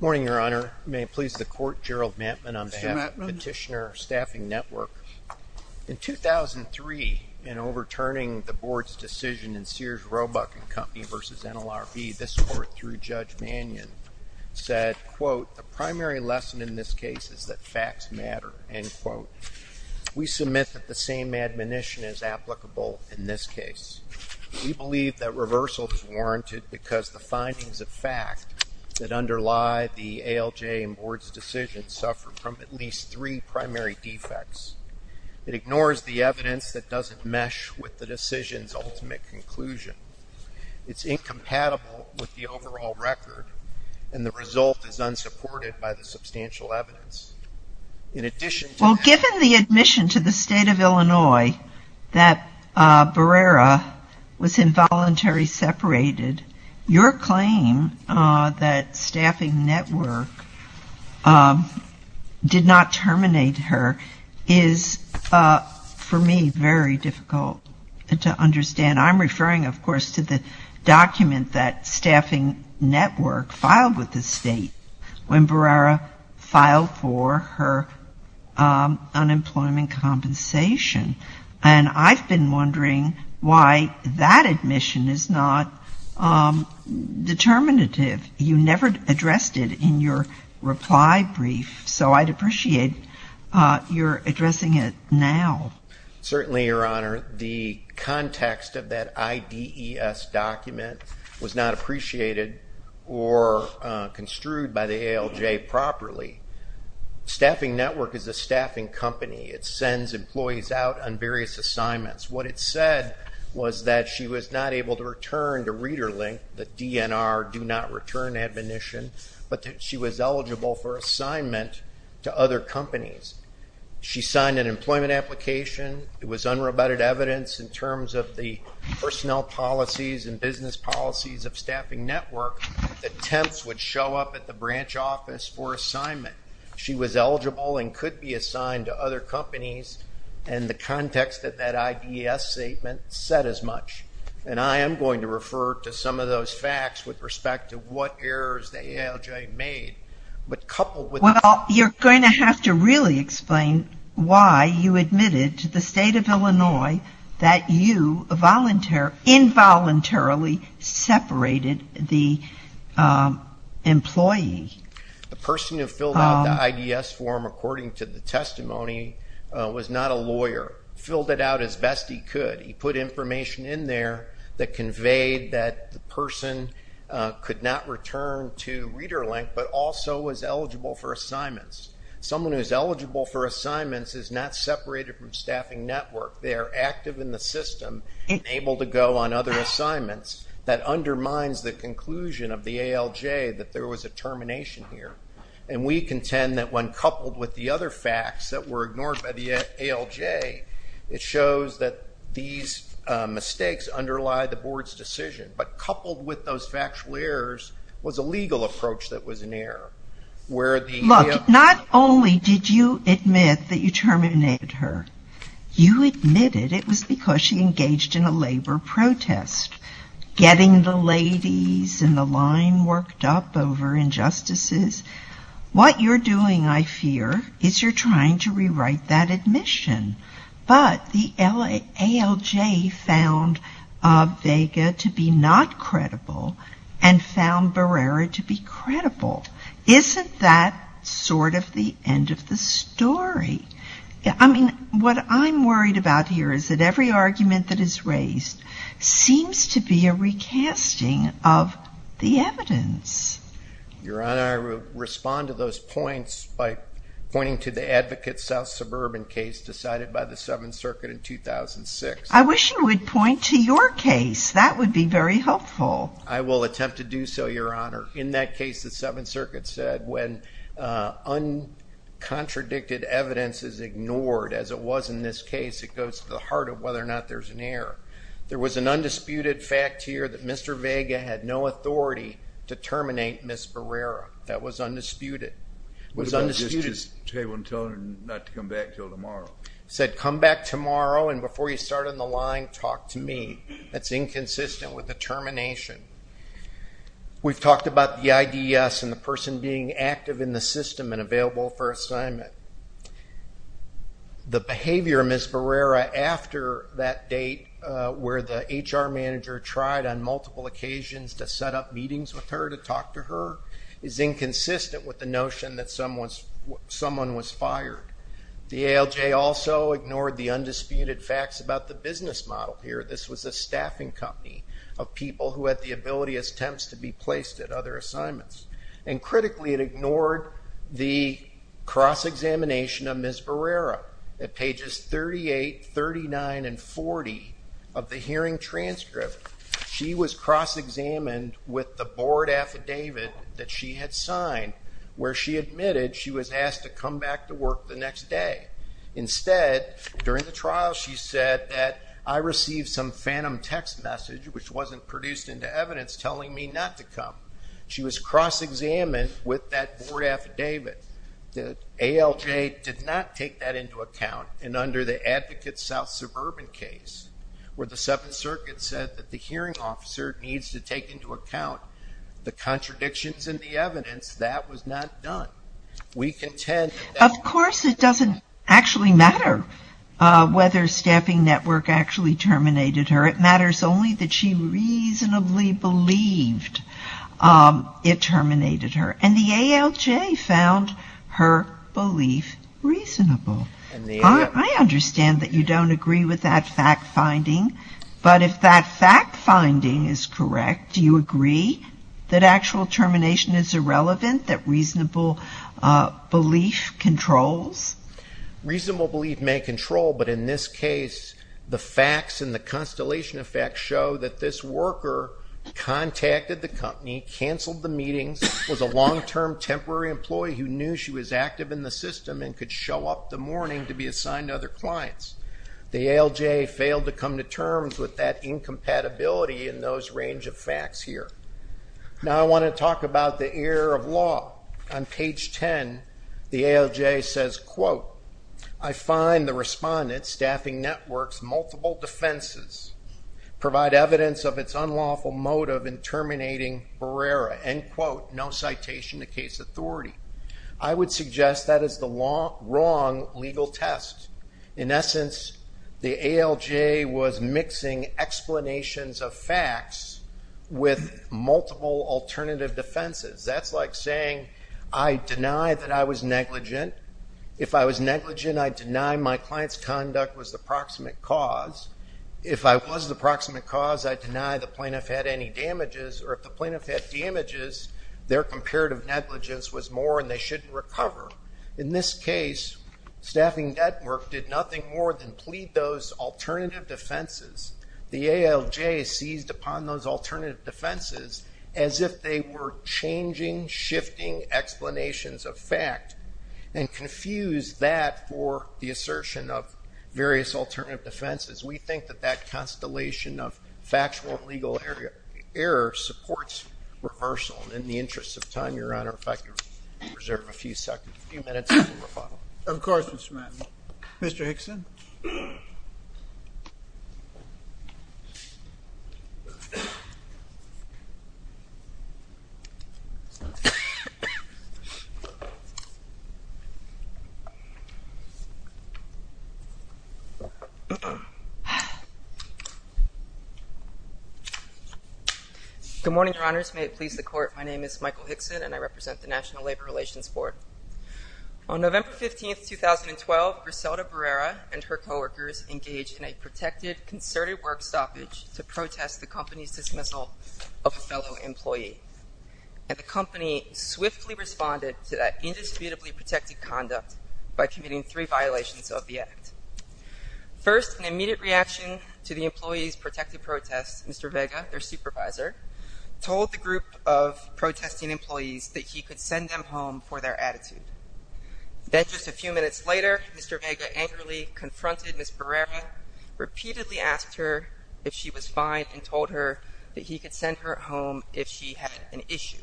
Morning, Your Honor. May it please the Court, Gerald Matman on behalf of Petitioner Staffing Network. In 2003, in overturning the Board's decision in Sears Roebuck & Company v. NLRB, this Court, through Judge Mannion, said, quote, The primary lesson in this case is that facts matter, end quote. We submit that the same admonition is applicable in this case. We that underlie the ALJ and Board's decision suffer from at least three primary defects. It ignores the evidence that doesn't mesh with the decision's ultimate conclusion. It's incompatible with the overall record, and the result is unsupported by the substantial evidence. In addition to that- Well, given the admission to the State of Illinois that Barrera was involuntarily separated, your claim that Staffing Network did not terminate her is, for me, very difficult to understand. I'm referring, of course, to the document that Staffing Network filed with the State when Barrera filed for her unemployment compensation. And I've been wondering why that admission is not determinative. You never addressed it in your reply brief, so I'd appreciate your addressing it now. Certainly, Your Honor. The context of that IDES document was not appreciated or construed by the ALJ properly. Staffing Network is a staffing company. It sends employees out on return to ReaderLink. The DNR do not return admonition, but she was eligible for assignment to other companies. She signed an employment application. It was unrebutted evidence in terms of the personnel policies and business policies of Staffing Network. Attempts would show up at the branch office for assignment. She was eligible and could be assigned to other companies, and the context of that IDES statement said as much. And I am going to refer to some of those facts with respect to what errors the ALJ made, but coupled with Well, you're going to have to really explain why you admitted to the State of Illinois that you involuntarily separated the employee. The person who filled out the IDES form according to the testimony was not a lawyer. He filled it out as best he could. He put information in there that conveyed that the person could not return to ReaderLink, but also was eligible for assignments. Someone who is eligible for assignments is not separated from Staffing Network. They are active in the system and able to go on other assignments. That undermines the conclusion of the ALJ that there was a termination here. And we contend that when coupled with the other facts that were ignored by the ALJ, it shows that these mistakes underlie the Board's decision. But coupled with those factual errors was a legal approach that was an error. Not only did you admit that you terminated her, you admitted it was because she engaged in a labor protest, getting the ladies and the line worked up over injustices. What you're doing, I fear, is you're trying to rewrite that admission. But the ALJ found Vega to be not credible and found Barrera to be credible. Isn't that sort of the end of the story? I mean, what I'm worried about here is that every argument that is raised seems to be a recasting of the evidence. Your Honor, I respond to those points by pointing to the advocate South Suburban case decided by the Seventh Circuit in 2006. I wish you would point to your case. That would be very helpful. I will attempt to do so, Your Honor. In that case, the Seventh Circuit said when uncontradicted evidence is ignored, as it was in this case, it goes to the heart of whether or not there's an error. There was an undisputed fact here that Mr. Vega had no authority to terminate Ms. Barrera. That was undisputed. What about just table and telling her not to come back until tomorrow? He said, come back tomorrow, and before you start on the line, talk to me. That's inconsistent with the termination. We've talked about the IDS and the person being active in the system and available for assignment. The behavior of Ms. Barrera after that date where the HR manager tried on multiple occasions to set up meetings with her to talk to her is inconsistent with the notion that someone was fired. The ALJ also ignored the undisputed facts about the business model here. This was a staffing company of people who had the ability, as temps, to be placed at other assignments, and critically, it ignored the cross-examination of Ms. Barrera. At pages 38, 39, and 40 of the hearing transcript, she was cross-examined with the board affidavit that she had signed where she admitted she was asked to come back to work the next day. Instead, during the trial, she said that, I received some phantom text message which wasn't produced into evidence telling me not to come. She was cross-examined with that board affidavit. The ALJ did not take that into account, and under the Advocate South Suburban case, where the Seventh Circuit said that the hearing officer needs to take into account the contradictions in the evidence, that was not done. Of course, it doesn't actually matter whether Staffing Network actually terminated her. It matters only that she reasonably believed it terminated her, and the ALJ found her belief reasonable. I understand that you don't agree with that fact-finding, but if that fact-finding is reasonable, belief controls? Reasonable belief may control, but in this case, the facts and the constellation of facts show that this worker contacted the company, canceled the meetings, was a long-term temporary employee who knew she was active in the system and could show up the morning to be assigned to other clients. The ALJ failed to come to terms with that incompatibility in those range of facts here. Now I want to talk about the air of law. On page 10, the ALJ says, quote, I find the respondent, Staffing Network's multiple defenses, provide evidence of its unlawful motive in terminating Barrera, end quote, no citation to case authority. I would suggest that is the wrong legal test. In essence, the ALJ was mixing explanations of facts with multiple alternative defenses. That's like saying, I deny that I was negligent. If I was negligent, I deny my client's conduct was the proximate cause. If I was the proximate cause, I deny the plaintiff had any damages, or if the plaintiff had damages, their comparative negligence was more and they shouldn't recover. In this case, Staffing Network did nothing more than plead those alternative defenses. The ALJ seized upon those alternative defenses as if they were changing, shifting explanations of fact and confused that for the assertion of various alternative defenses. We think that that constellation of factual and legal error supports reversal. In the interest of time, Your Honor, if I could reserve a few seconds, a few minutes before rebuttal. Of course, Mr. Matney. Mr. Hickson? Good morning, Your Honors. May it please the Court, my name is Michael Hickson, and I represent the National Labor Relations Board. On November 15th, 2012, Griselda Barrera and her coworkers engaged in a protected, concerted work stoppage to protest the company's dismissal of a fellow employee. And the company swiftly responded to that indisputably protected conduct by committing three violations of the act. First, an immediate reaction to the employee's protective protest, Mr. Vega, their supervisor, told the group of protesting employees that he could send them home for their attitude. Then just a few minutes later, Mr. Vega angrily confronted Ms. Barrera, repeatedly asked her if she was fine and told her that he could send her home if she had an issue.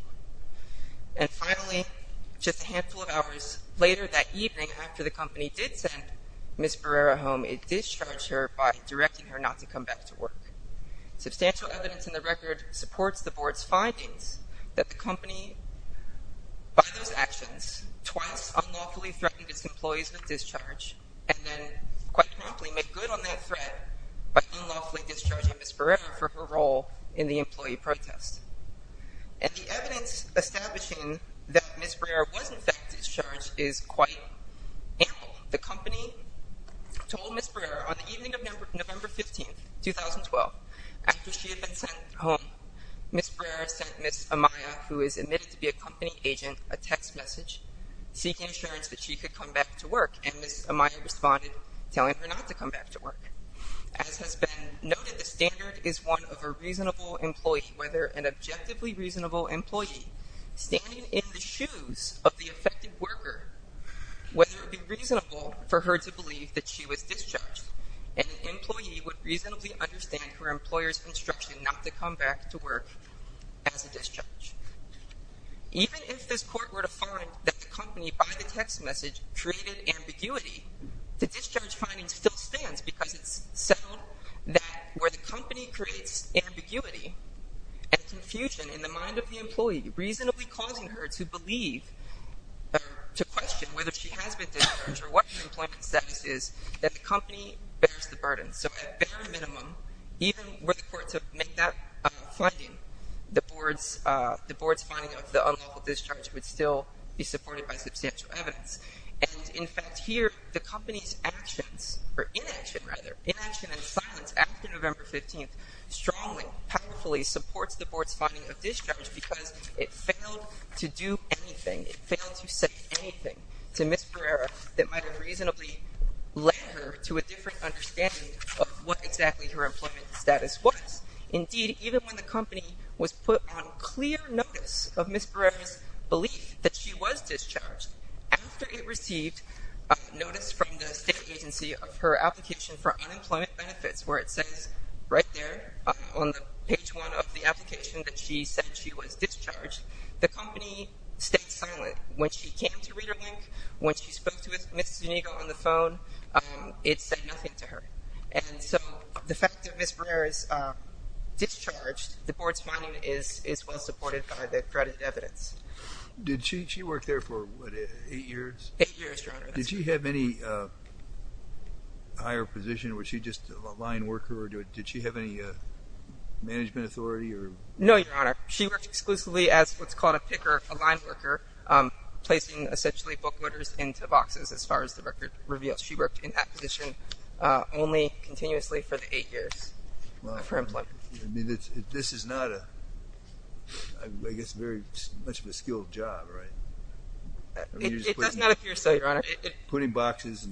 And finally, just a handful of hours later that evening after the company did send Ms. Barrera home, it discharged her by directing her not to come back to work. Substantial evidence in the record supports the board's findings that the company, by those actions, twice unlawfully threatened its employees with discharge and then quite promptly made good on that threat by unlawfully discharging Ms. Barrera for her role in the employee protest. And the evidence establishing that Ms. Barrera was in fact discharged is quite ample. The company told Ms. Barrera on the evening of November 15, 2012, after she had been sent home, Ms. Barrera sent Ms. Amaya, who is admitted to be a company agent, a text message seeking assurance that she could come back to work, and Ms. Amaya responded telling her not to come back to work. As has been noted, the standard is one of a reasonable employee, whether an objectively for her to believe that she was discharged, and an employee would reasonably understand her employer's instruction not to come back to work as a discharge. Even if this court were to find that the company, by the text message, created ambiguity, the discharge finding still stands because it's settled that where the company creates ambiguity and confusion in the mind of the employee, reasonably causing her to believe or to question whether she has been discharged or what her employment status is, that the company bears the burden. So at bare minimum, even were the court to make that finding, the board's finding of the unlawful discharge would still be supported by substantial evidence. And in fact here, the company's actions, or inaction rather, inaction and silence after November 15th strongly, powerfully supports the board's finding of discharge because it failed to do anything anything to Ms. Pereira that might have reasonably led her to a different understanding of what exactly her employment status was. Indeed, even when the company was put on clear notice of Ms. Pereira's belief that she was discharged, after it received notice from the state agency of her application for unemployment benefits, where it says right there on page one of the application that she said she was discharged, the company stayed silent. When she came to ReaderLink, when she spoke to Ms. Zuniga on the phone, it said nothing to her. And so the fact that Ms. Pereira is discharged, the board's finding is well supported by the accredited evidence. Did she work there for what, eight years? Eight years, your honor. Did she have any higher position? Was she just a line worker or did she have any authority? No, your honor. She worked exclusively as what's called a picker, a line worker, placing essentially book loaders into boxes, as far as the record reveals. She worked in that position only continuously for the eight years of her employment. I mean, this is not a, I guess, very much of a skilled job, right? It does not appear so, your honor. Putting boxes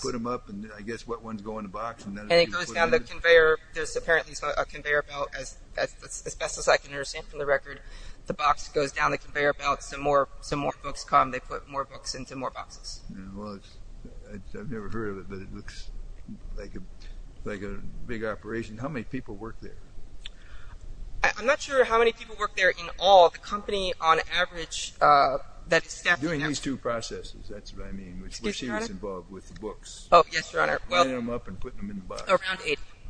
put them up and I guess what ones go in the box. And it goes down the conveyor. There's a conveyor belt, as best as I can understand from the record, the box goes down the conveyor belt, some more books come, they put more books into more boxes. Well, I've never heard of it, but it looks like a big operation. How many people work there? I'm not sure how many people work there in all. The company, on average, that is staffed... Doing these two processes, that's what I mean, which she was involved with the books. Oh, yes, your honor. Well, them up and putting them in the box.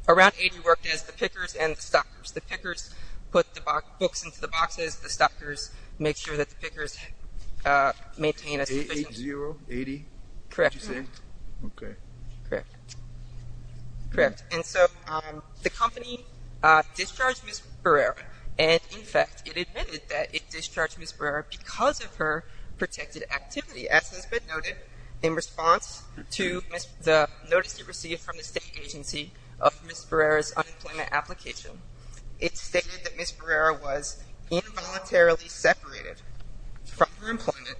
Around 80 worked as the pickers and the stockers. The pickers put the books into the boxes, the stockers make sure that the pickers maintain a sufficient... Eight zero, 80? Correct. Correct. And so the company discharged Ms. Barrera. And in fact, it admitted that it discharged Ms. Barrera because of her protected activity. As has been noted, in response to the notice it received from the state agency of Ms. Barrera's unemployment application, it stated that Ms. Barrera was involuntarily separated from her employment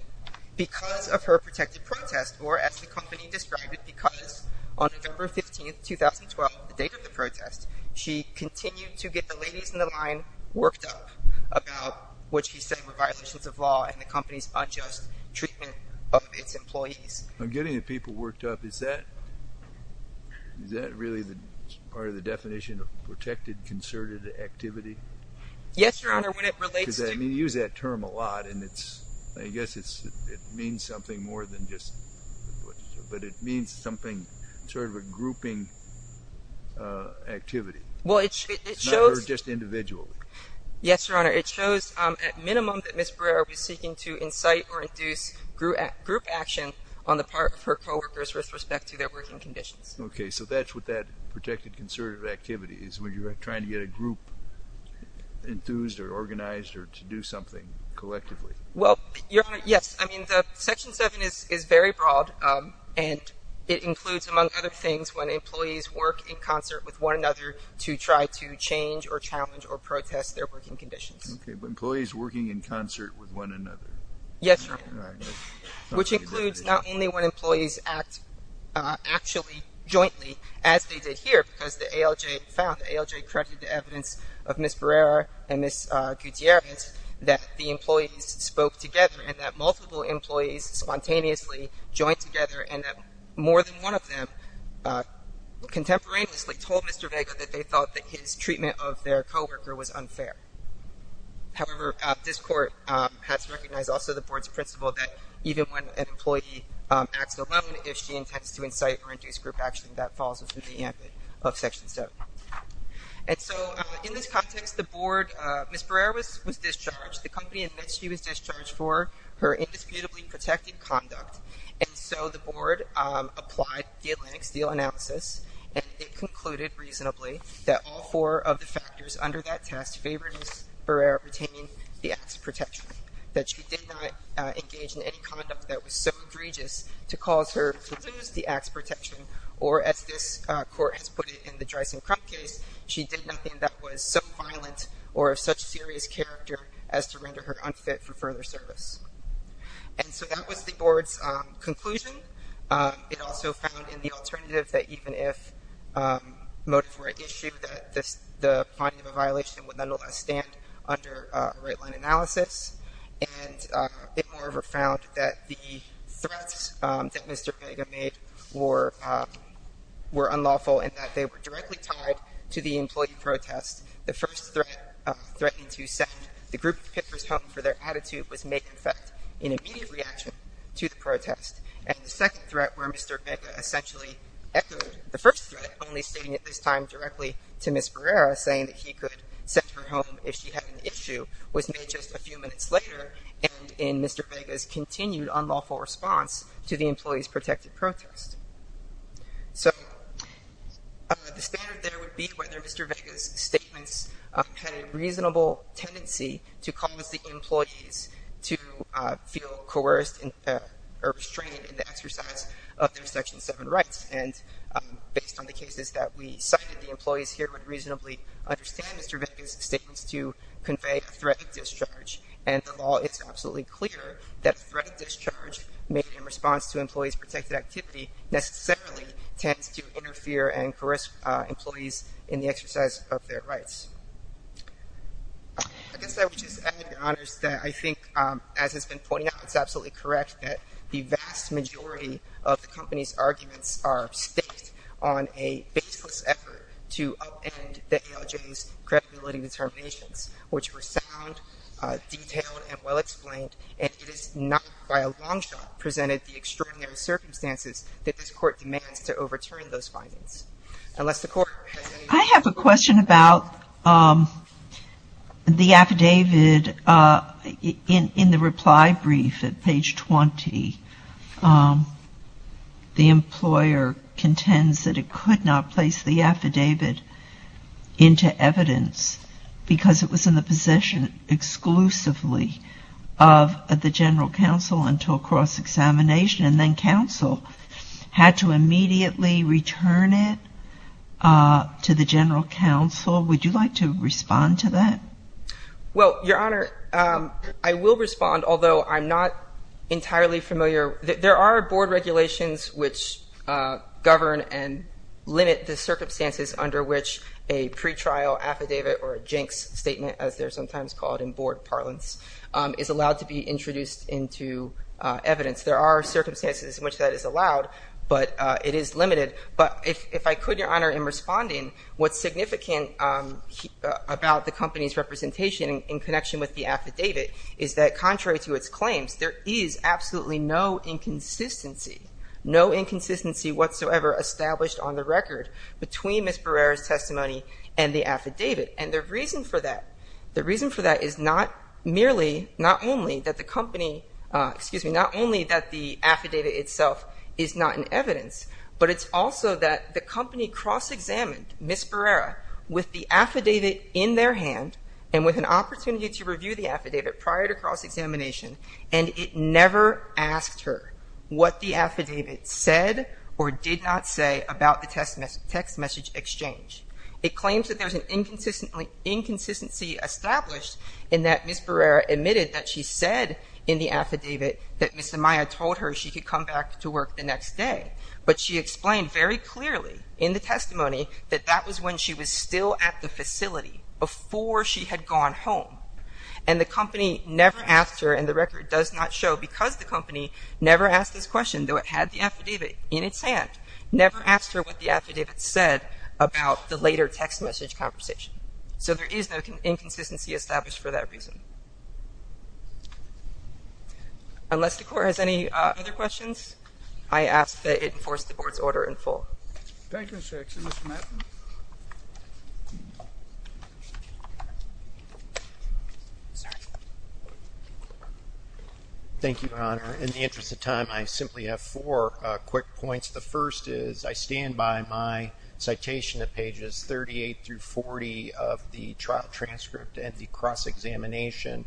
because of her protected protest, or as the company described it, because on November 15th, 2012, the date of the protest, she continued to get the ladies in the line worked up about what she said were violations of law and the company's treatment of its employees. Getting the people worked up, is that really part of the definition of protected concerted activity? Yes, your honor, when it relates to... You use that term a lot, and I guess it means something more than just... But it means something, sort of a grouping activity. Well, it shows... Or just individually. Yes, your honor, it shows at minimum that Ms. Barrera did not conduct or induce group action on the part of her co-workers with respect to their working conditions. Okay, so that's what that protected concerted activity is, where you're trying to get a group enthused or organized or to do something collectively. Well, your honor, yes. I mean, the Section 7 is very broad, and it includes, among other things, when employees work in concert with one another to try to change or challenge or protest their conditions. Okay, but employees working in concert with one another. Yes, your honor, which includes not only when employees act actually jointly, as they did here, because the ALJ found, the ALJ credited the evidence of Ms. Barrera and Ms. Gutierrez that the employees spoke together, and that multiple employees spontaneously joined together, and that more than one of them contemporaneously told Mr. Vega that they thought that his treatment of their co-worker was unfair. However, this court has recognized also the board's principle that even when an employee acts alone, if she intends to incite or induce group action, that falls within the ambit of Section 7. And so, in this context, the board, Ms. Barrera was discharged. The company admits she was discharged for her indisputably protected conduct, and so the board applied the Atlantic Steel analysis, and it concluded reasonably that all four of the factors under that test favor Ms. Barrera retaining the axe protection, that she did not engage in any conduct that was so egregious to cause her to lose the axe protection, or as this court has put it in the Dreysen-Crump case, she did nothing that was so violent or of such serious character as to render her unfit for further service. And so that was the board's conclusion. It also found in the stand under a right-line analysis, and it moreover found that the threats that Mr. Vega made were unlawful, and that they were directly tied to the employee protest. The first threat, threatening to send the group pickers home for their attitude, was make, in fact, an immediate reaction to the protest. And the second threat, where Mr. Vega essentially echoed the first threat, only stating at this time directly to Ms. Barrera, saying that he could send her home if she had an issue, was made just a few minutes later, and in Mr. Vega's continued unlawful response to the employee's protected protest. So the standard there would be whether Mr. Vega's statements had a reasonable tendency to cause the employees to feel coerced or restrained in the exercise of their Section 7 rights. And based on the cases that we cited, the employees here would reasonably understand Mr. Vega's statements to convey a threat of discharge. And of all, it's absolutely clear that a threat of discharge made in response to employees' protected activity necessarily tends to interfere and coerce employees in the exercise of their rights. I guess I would just add, Your Honors, that I think, as has been pointed out, it's absolutely correct that the vast majority of the company's arguments are staked on a baseless effort to upend the ALJ's credibility determinations, which were sound, detailed, and well-explained. And it has not, by a long shot, presented the extraordinary circumstances that this Court demands to overturn those findings. Unless the Court has any more questions. The question about the affidavit, in the reply brief at page 20, the employer contends that it could not place the affidavit into evidence because it was in the possession exclusively of the General Counsel until cross-examination, and then counsel had to immediately return it to the General Counsel. Would you like to respond to that? Well, Your Honor, I will respond, although I'm not entirely familiar. There are board regulations which govern and limit the circumstances under which a pretrial affidavit or a jinx statement, as they're sometimes called in board parlance, is allowed to be introduced into evidence. There are circumstances in which that is allowed, but it is limited. But if I could, Your Honor, in responding, what's significant about the company's representation in connection with the affidavit is that, contrary to its claims, there is absolutely no inconsistency, no inconsistency whatsoever established on the record between Ms. Barrera's testimony and the affidavit. And the reason for that, the reason for that is not merely, not only that the company, excuse me, not only that the affidavit itself is not in evidence, but it's also that the company cross-examined Ms. Barrera with the affidavit in their hand and with an opportunity to review the affidavit prior to cross-examination, and it never asked her what the affidavit said or did not say about the text message exchange. It claims that there's an inconsistency established in that Ms. Barrera admitted that she said in the affidavit that Ms. Amaya told her she could come back to work the next day. But she explained very clearly in the testimony that that was when she was still at the facility, before she had gone home. And the company never asked her, and the record does not show, because the company never asked this question, though it had the affidavit in its hand, never asked her what the affidavit said about the later text message conversation. So there is no inconsistency established for that reason. Unless the Court has any other questions, I ask that it enforce the Board's order in full. Thank you, Section. Mr. Matlin. Thank you, Your Honor. In the interest of time, I simply have four quick points. The first is, I stand by my citation at pages 38 through 40 of the trial transcript and the cross-examination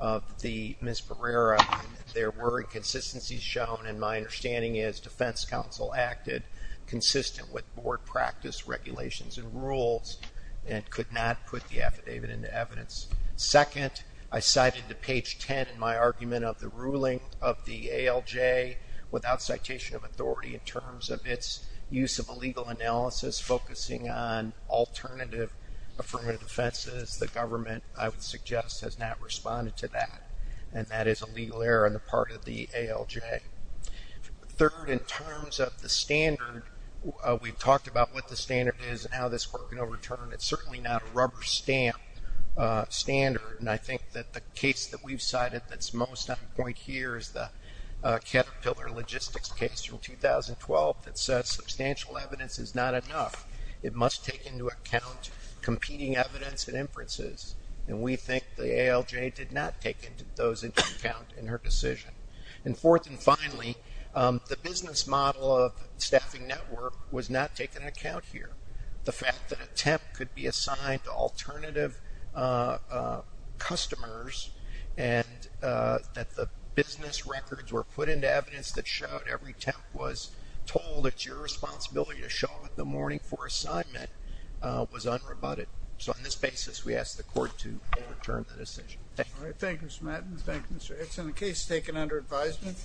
of Ms. Barrera. There were inconsistencies shown, and my understanding is Defense Counsel acted consistent with Board practice, regulations, and rules, and could not put the affidavit into evidence. Second, I cited to page 10 in my argument of the ruling of the ALJ without citation of authority, in terms of its use of a legal analysis focusing on alternative affirmative defenses. The government, I would suggest, has not responded to that, and that is a legal error on the part of the ALJ. Third, in terms of the standard, we've talked about what the standard is and how this Court can overturn it. It's certainly not a rubber stamp standard, and I think that the case that we've cited that's most on point here is the Caterpillar Logistics case from 2012 that says substantial evidence is not enough. It must take into account competing evidence and inferences, and we think the ALJ did not take those into account in her decision. And fourth and finally, the business model of staffing network was not taken into account here. The fact that a temp could be assigned to alternative customers and that the business records were put into evidence that showed every temp was told it's your responsibility to show up in the morning for assignment was unrebutted. So on this basis, we ask the Court to overturn the decision. Thank you. Thank you, Mr. Madden. Thank you, Mr. Hicks. And the case is taken under advisement.